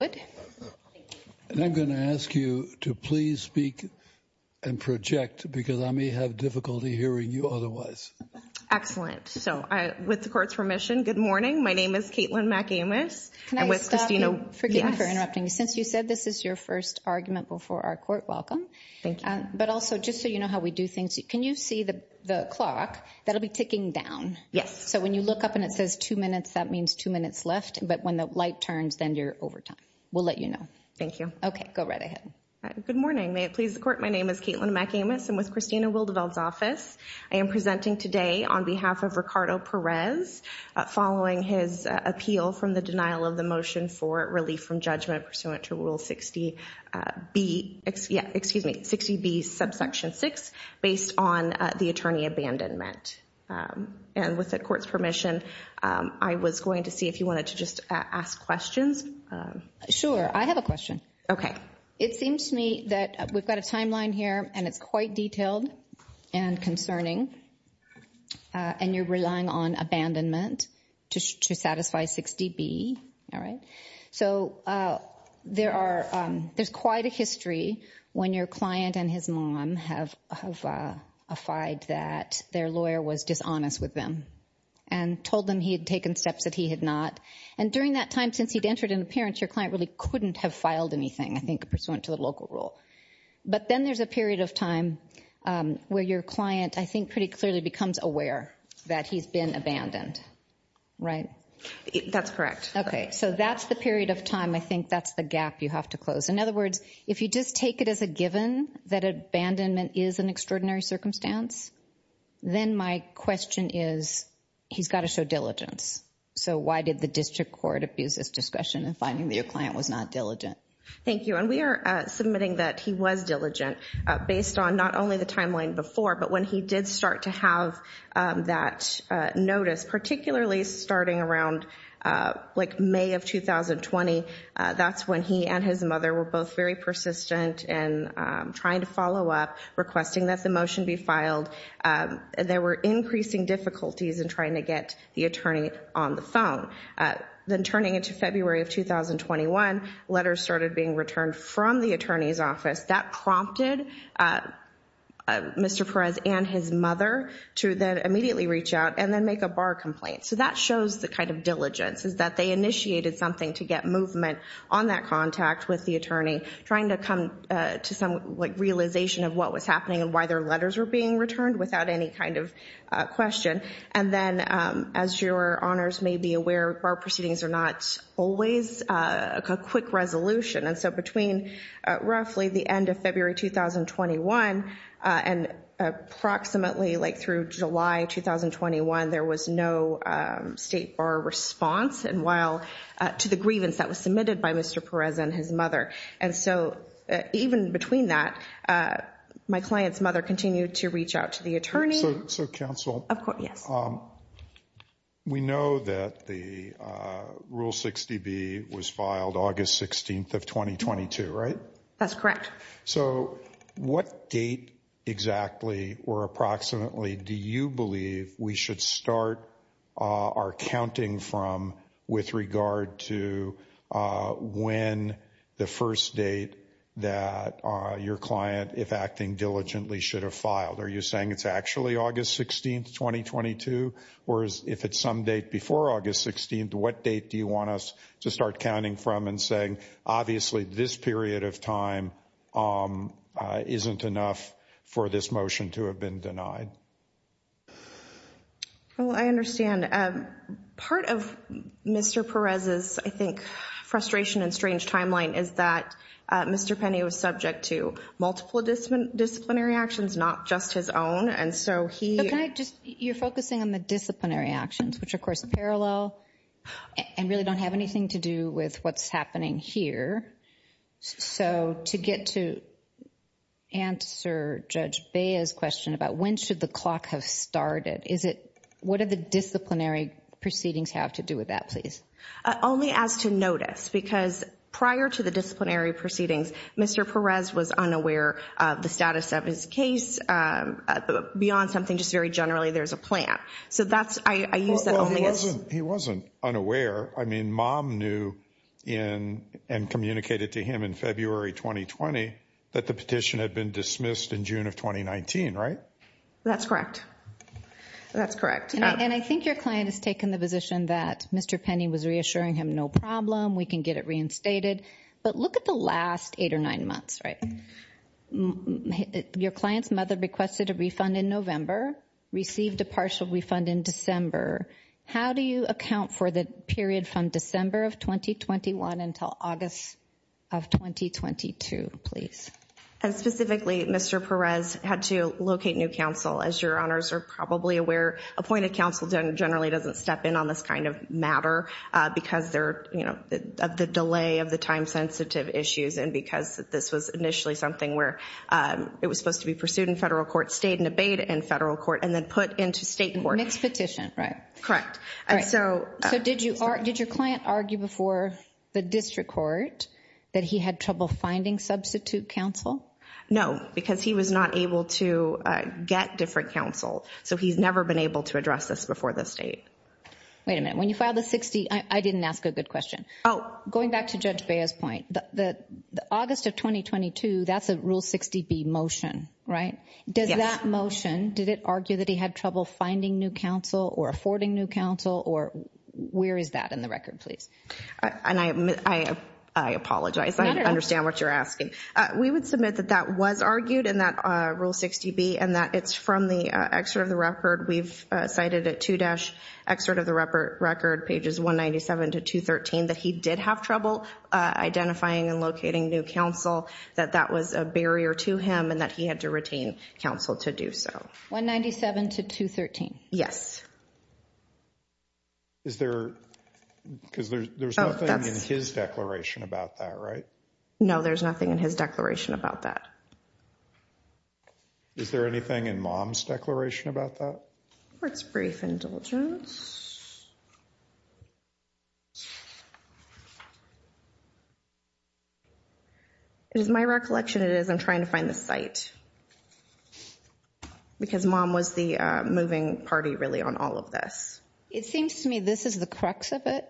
I'm going to ask you to please speak and project because I may have difficulty hearing you So, with the court's permission, good morning. My name is Kaitlin McAmis. Can I stop you? Forgive me for interrupting. Since you said this is your first argument before our court, welcome. Thank you. But also, just so you know how we do things, can you see the clock that'll be ticking down? Yes. So when you look up and it says two minutes, that means two minutes left, but when the clock turns, then you're over time. We'll let you know. Thank you. Okay. Go right ahead. Good morning. May it please the court. My name is Kaitlin McAmis. I'm with Christina Wildeveld's office. I am presenting today on behalf of Ricardo Perez following his appeal from the denial of the motion for relief from judgment pursuant to Rule 60B, excuse me, 60B Subsection 6 based on the attorney abandonment. And with the court's permission, I was going to see if you wanted to just ask questions. Sure. I have a question. It seems to me that we've got a timeline here, and it's quite detailed and concerning, and you're relying on abandonment to satisfy 60B, all right? So there's quite a history when your client and his mom have affied that their lawyer was dishonest with them and told them he had taken steps that he had not. And during that time, since he'd entered into appearance, your client really couldn't have filed anything, I think, pursuant to the local rule. But then there's a period of time where your client, I think, pretty clearly becomes aware that he's been abandoned, right? That's correct. Correct. So that's the period of time. I think that's the gap you have to close. In other words, if you just take it as a given that abandonment is an extraordinary circumstance, then my question is, he's got to show diligence. So why did the district court abuse this discussion in finding that your client was not diligent? Thank you. And we are submitting that he was diligent based on not only the timeline before, but when he did start to have that notice, particularly starting around May of 2020. That's when he and his mother were both very persistent in trying to follow up, requesting that the motion be filed. There were increasing difficulties in trying to get the attorney on the phone. Then turning into February of 2021, letters started being returned from the attorney's office. That prompted Mr. Perez and his mother to then immediately reach out and then make a bar complaint. So that shows the kind of diligence, is that they initiated something to get movement on that contact with the attorney, trying to come to some realization of what was happening and why their letters were being returned without any kind of question. And then, as your honors may be aware, bar proceedings are not always a quick resolution. And so between roughly the end of February 2021 and approximately like through July 2021, there was no state bar response to the grievance that was submitted by Mr. Perez and his mother. And so even between that, my client's mother continued to reach out to the attorney. So counsel, we know that the Rule 60B was filed August 16th of 2022, right? That's correct. So what date exactly or approximately do you believe we should start our counting from with regard to when the first date that your client, if acting diligently, should have filed? Are you saying it's actually August 16th, 2022? Or if it's some date before August 16th, what date do you want us to start counting from and saying, obviously, this period of time isn't enough for this motion to have been denied? Well, I understand. Part of Mr. Perez's, I think, frustration and strange timeline is that Mr. Penny was subject to multiple disciplinary actions, not just his own. And so he... But can I just... You're focusing on the disciplinary actions, which, of course, are parallel and really don't have anything to do with what's happening here. So to get to answer Judge Bea's question about when should the clock have started, is it... What are the disciplinary proceedings have to do with that, please? Only as to notice, because prior to the disciplinary proceedings, Mr. Perez was unaware of the status of his case beyond something just very generally there's a plan. So that's... I use that only as... Well, he wasn't unaware. I mean, mom knew and communicated to him in February 2020 that the petition had been dismissed in June of 2019, right? That's correct. That's correct. And I think your client has taken the position that Mr. Penny was reassuring him, no problem, we can get it reinstated. But look at the last eight or nine months, right? Your client's mother requested a refund in November, received a partial refund in December. How do you account for the period from December of 2021 until August of 2022, please? And specifically, Mr. Perez had to locate new counsel, as your honors are probably aware, appointed counsel generally doesn't step in on this kind of matter because of the delay of the time-sensitive issues and because this was initially something where it was supposed to be pursued in federal court, stayed and abated in federal court, and then put into state court. Mixed petition, right? Correct. And so... So did your client argue before the district court that he had trouble finding substitute counsel? No, because he was not able to get different counsel. So he's never been able to address this before the state. Wait a minute, when you filed the 60, I didn't ask a good question. Going back to Judge Bea's point, the August of 2022, that's a Rule 60B motion, right? Does that motion, did it argue that he had trouble finding new counsel or affording new counsel or where is that in the record, please? And I apologize, I understand what you're asking. We would submit that that was argued in that Rule 60B and that it's from the excerpt of the record. We've cited at 2-excerpt of the record, pages 197 to 213, that he did have trouble identifying and locating new counsel, that that was a barrier to him and that he had to retain counsel to do so. 197 to 213? Yes. Is there, because there's nothing in his declaration about that, right? No, there's nothing in his declaration about that. Is there anything in mom's declaration about that? It's brief indulgence. It is my recollection it is, I'm trying to find the site. Because mom was the moving party really on all of this. It seems to me this is the crux of it.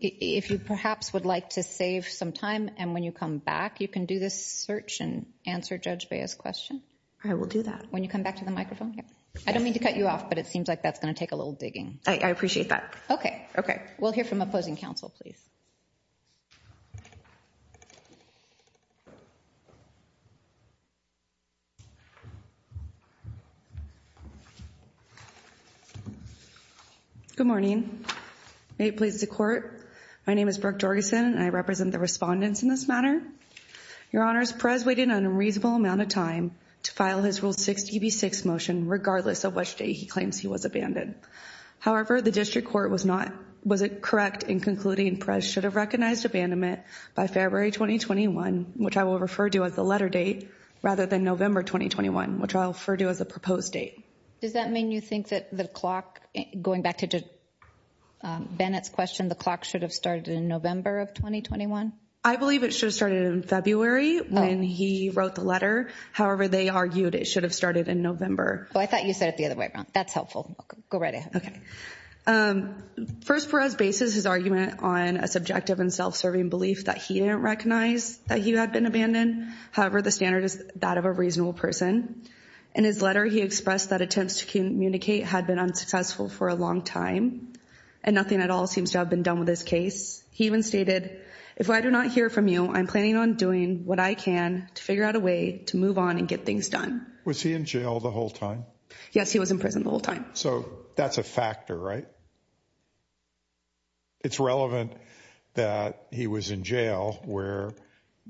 If you perhaps would like to save some time and when you come back, you can do this search and answer Judge Bea's question. I will do that. When you come back to the microphone. I don't mean to cut you off, but it seems like that's going to take a little digging. I appreciate that. Okay. Okay. We'll hear from opposing counsel, please. Good morning. May it please the court, my name is Brooke Jorgensen and I represent the respondents in this matter. Your honors, Perez waited an unreasonable amount of time to file his rule 60B6 motion regardless of which day he claims he was abandoned. However, the district court was not, was it correct in concluding Perez should have recognized abandonment by February 2021, which I will refer to as the letter date, rather than November 2021, which I'll refer to as the proposed date. Does that mean you think that the clock going back to Bennett's question, the clock should have started in November of 2021? I believe it should have started in February when he wrote the letter. However, they argued it should have started in November. I thought you said it the other way around. That's helpful. Go right ahead. Okay. First, Perez bases his argument on a subjective and self-serving belief that he didn't recognize that he had been abandoned. However, the standard is that of a reasonable person. In his letter, he expressed that attempts to communicate had been unsuccessful for a long time and nothing at all seems to have been done with this case. He even stated, if I do not hear from you, I'm planning on doing what I can to figure out a way to move on and get things done. Was he in jail the whole time? Yes, he was in prison the whole time. So that's a factor, right? It's relevant that he was in jail where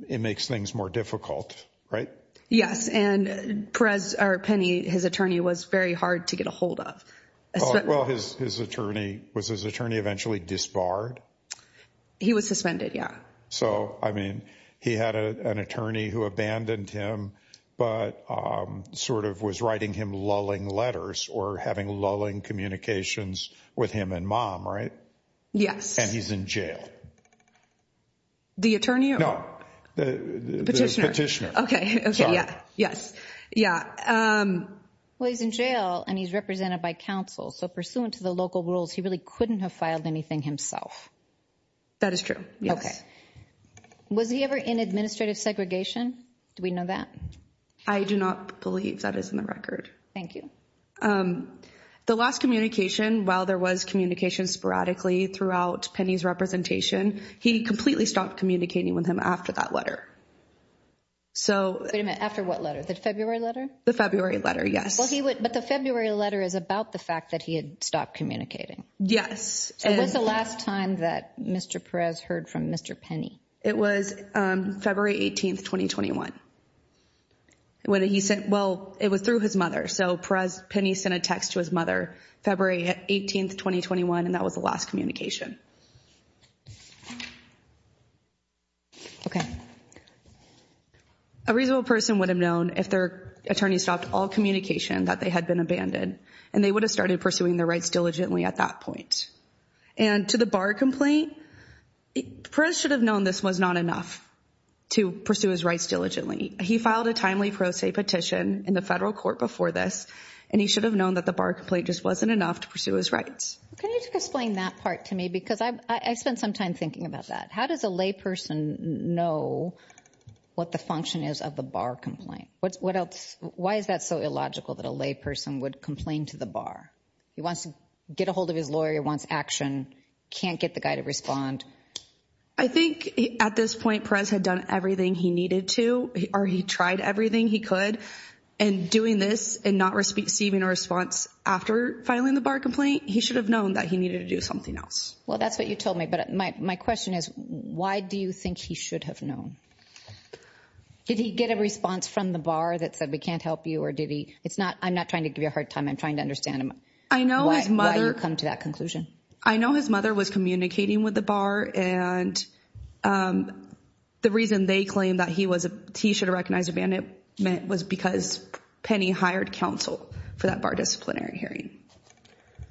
it makes things more difficult, right? Yes. And Perez, or Penny, his attorney was very hard to get a hold of. Well, his attorney, was his attorney eventually disbarred? He was suspended, yeah. So I mean, he had an attorney who abandoned him, but sort of was writing him lulling letters or having lulling communications with him and mom, right? Yes. And he's in jail. The attorney? No. Petitioner. Petitioner. Okay. Yeah. Yes. Yeah. Well, he's in jail and he's represented by counsel. So pursuant to the local rules, he really couldn't have filed anything himself. That is true. Yes. Okay. Was he ever in administrative segregation? Do we know that? I do not believe that is in the record. Thank you. The last communication, while there was communication sporadically throughout Penny's representation, he completely stopped communicating with him after that letter. So- After what letter? The February letter? The February letter. Yes. But the February letter is about the fact that he had stopped communicating. Yes. And- So when's the last time that Mr. Perez heard from Mr. Penny? It was February 18th, 2021, when he sent, well, it was through his mother. So Perez, Penny sent a text to his mother, February 18th, 2021, and that was the last communication. Okay. A reasonable person would have known if their attorney stopped all communication that they had been abandoned, and they would have started pursuing their rights diligently at that point. And to the bar complaint, Perez should have known this was not enough to pursue his rights diligently. He filed a timely pro se petition in the federal court before this, and he should have known that the bar complaint just wasn't enough to pursue his rights. Can you explain that part to me? Because I spent some time thinking about that. How does a lay person know what the function is of the bar complaint? What else? Why is that so illogical that a lay person would complain to the bar? He wants to get a hold of his lawyer, wants action, can't get the guy to respond. I think at this point, Perez had done everything he needed to, or he tried everything he could, and doing this and not receiving a response after filing the bar complaint, he should have known that he needed to do something else. Well, that's what you told me, but my question is, why do you think he should have known? Did he get a response from the bar that said, we can't help you, or did he? It's not, I'm not trying to give you a hard time. I'm trying to understand why you come to that conclusion. I know his mother was communicating with the bar, and the reason they claimed that he should recognize abandonment was because Penny hired counsel for that bar disciplinary hearing.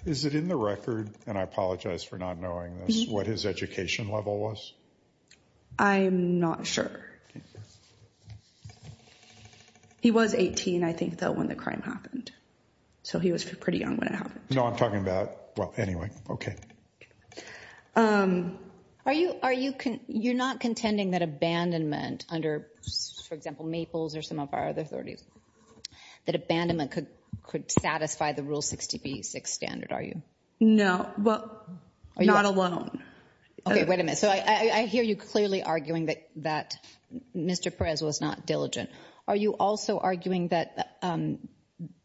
Is it in the record, and I apologize for not knowing this, what his education level was? I'm not sure. He was 18, I think, though, when the crime happened. So he was pretty young when it happened. No, I'm talking about, well, anyway, okay. Are you, you're not contending that abandonment under, for example, Maples or some of our other authorities, that abandonment could satisfy the Rule 60B6 standard, are you? No, but not alone. Okay, wait a minute, so I hear you clearly arguing that Mr. Perez was not diligent. Are you also arguing that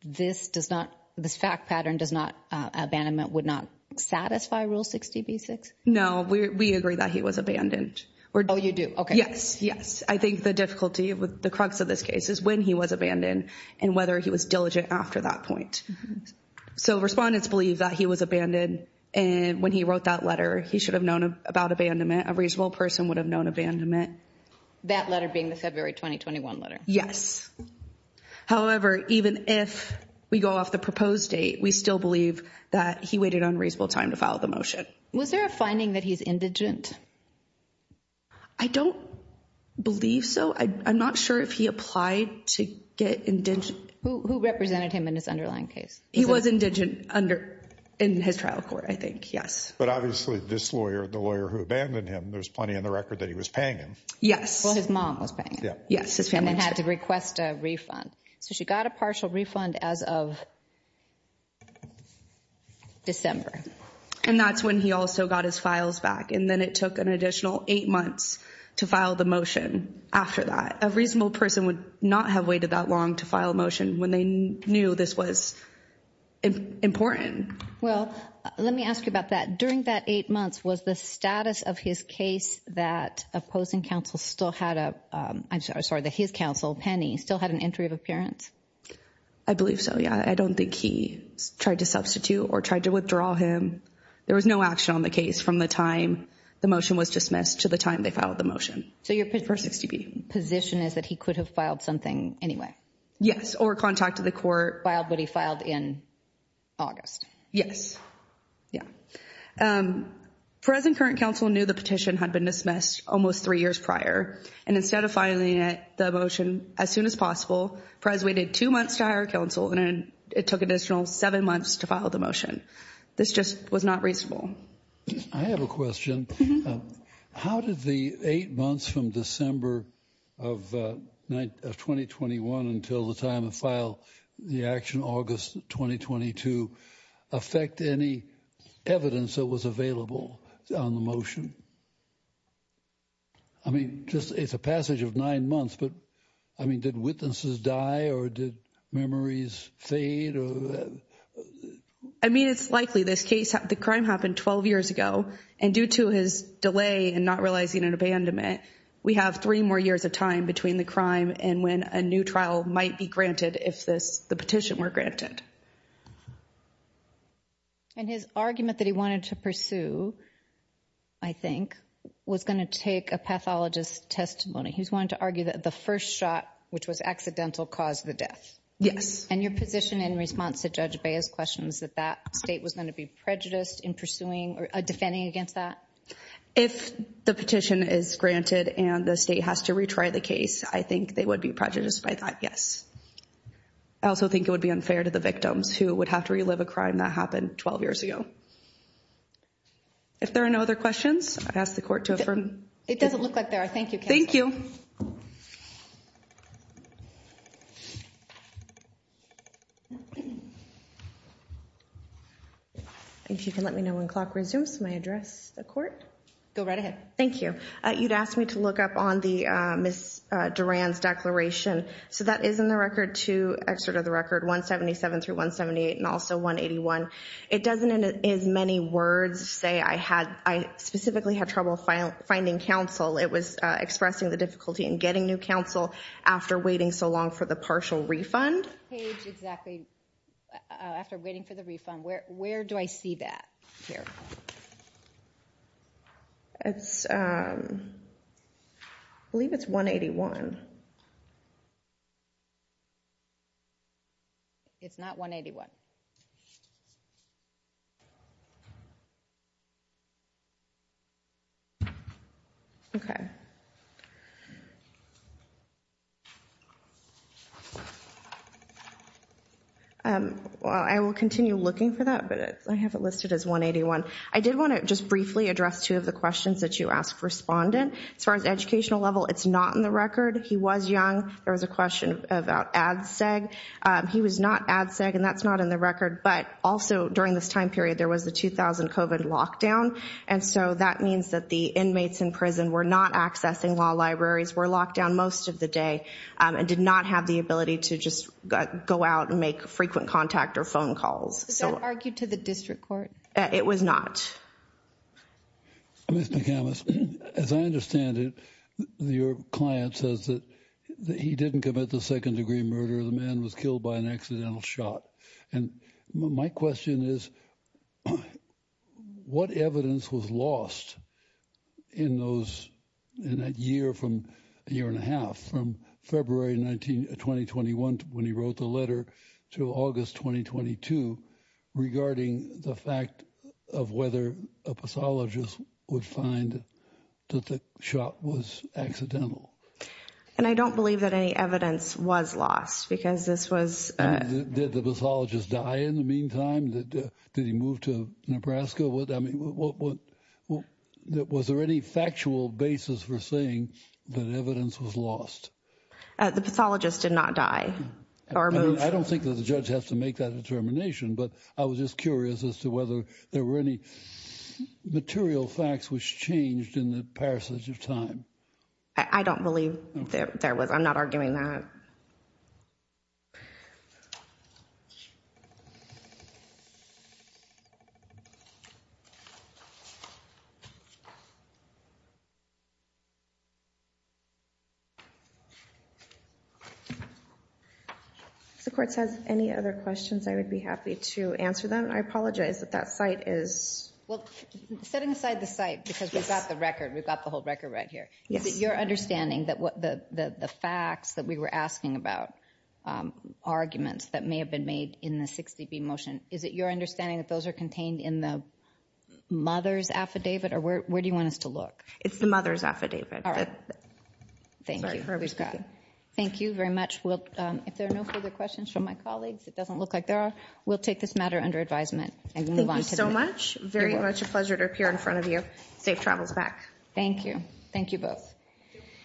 this does not, this fact pattern does not, abandonment would not satisfy Rule 60B6? No, we agree that he was abandoned. Oh, you do, okay. Yes, yes. I think the difficulty with the crux of this case is when he was abandoned and whether he was diligent after that point. So respondents believe that he was abandoned, and when he wrote that letter, he should have known about abandonment. A reasonable person would have known abandonment. That letter being the February 2021 letter? Yes. However, even if we go off the proposed date, we still believe that he waited unreasonable time to file the motion. Was there a finding that he's indigent? I don't believe so. I'm not sure if he applied to get indigent. Who represented him in this underlying case? He was indigent under, in his trial court, I think, yes. But obviously this lawyer, the lawyer who abandoned him, there's plenty in the record that he was paying him. Yes. Well, his mom was paying him. Yes, his family was paying him. And he requested a refund. So she got a partial refund as of December. And that's when he also got his files back. And then it took an additional eight months to file the motion after that. A reasonable person would not have waited that long to file a motion when they knew this was important. Well, let me ask you about that. During that eight months, was the status of his case that opposing counsel still had a, I'm sorry, that his counsel, Penny, still had an entry of appearance? I believe so. Yeah, I don't think he tried to substitute or tried to withdraw him. There was no action on the case from the time the motion was dismissed to the time they filed the motion. So your position is that he could have filed something anyway? Yes, or contacted the court. Filed, but he filed in August. Yes. Yeah, present current counsel knew the petition had been dismissed almost three years prior, and instead of filing the motion as soon as possible, Perez waited two months to hire counsel and it took an additional seven months to file the motion. This just was not reasonable. I have a question. How did the eight months from December of 2021 until the time of file, the action August 2022, affect any evidence that was available on the motion? I mean, just it's a passage of nine months, but I mean, did witnesses die or did memories fade? I mean, it's likely this case, the crime happened 12 years ago, and due to his delay and not realizing an abandonment, we have three more years of time between the crime and when a new trial might be granted if this, the petition were granted. And his argument that he wanted to pursue, I think, was going to take a pathologist's testimony. He's wanting to argue that the first shot, which was accidental, caused the death. Yes. And your position in response to Judge Bea's question is that that state was going to be prejudiced in pursuing or defending against that? If the petition is granted and the state has to retry the case, I think they would be prejudiced by that. Yes. I also think it would be unfair to the victims who would have to relive a crime that happened 12 years ago. If there are no other questions, I ask the court to affirm. It doesn't look like there are. Thank you. Thank you. If you can let me know when the clock resumes, may I address the court? Go right ahead. Thank you. You'd asked me to look up on the Ms. Duran's declaration. So that is in the record to, excerpt of the record, 177 through 178, and also 181. It doesn't, in as many words, say I specifically had trouble finding counsel. It was expressing the difficulty in getting new counsel after waiting so long for the partial refund. Page exactly, after waiting for the refund, where do I see that here? It's, I believe it's 181. It's not 181. OK. I will continue looking for that, but I have it listed as 181. I did want to just briefly address two of the questions that you asked, respondent. As far as educational level, it's not in the record. He was young. There was a question about ADSEG. He was not ADSEG, and that's not in the record. But also, during this time period, there was the 2000 COVID lockdown. And so that means that the inmates in prison were not accessing law libraries, were locked down most of the day, and did not have the ability to just go out and make frequent contact or phone calls. Was that argued to the district court? It was not. Ms. McCamas, as I understand it, your client says that he didn't commit the second degree murder. The man was killed by an accidental shot. And my question is, what evidence was lost in those, in that year from, a year and a half, from February 19, 2021, when he wrote the letter, to August 2022, regarding the fact of whether a pathologist would find that the shot was accidental? And I don't believe that any evidence was lost, because this was- And did the pathologist die in the meantime? Did he move to Nebraska? I mean, was there any factual basis for saying that evidence was lost? The pathologist did not die. I don't think that the judge has to make that determination. But I was just curious as to whether there were any material facts which changed in the passage of time. I don't believe there was. I'm not arguing that. Thank you. If the court has any other questions, I would be happy to answer them. I apologize that that site is- Well, setting aside the site, because we've got the record. We've got the whole record right here. Is it your understanding that the facts that we were asking about, arguments that may have been made in the 60B motion, is it your understanding that those are contained in the mother's affidavit? Or where do you want us to look? It's the mother's affidavit. All right. Thank you. Thank you very much. If there are no further questions from my colleagues, it doesn't look like there are, we'll take this matter under advisement and move on to the- Thank you so much. Very much a pleasure to appear in front of you. Safe travels back. Thank you. Thank you both.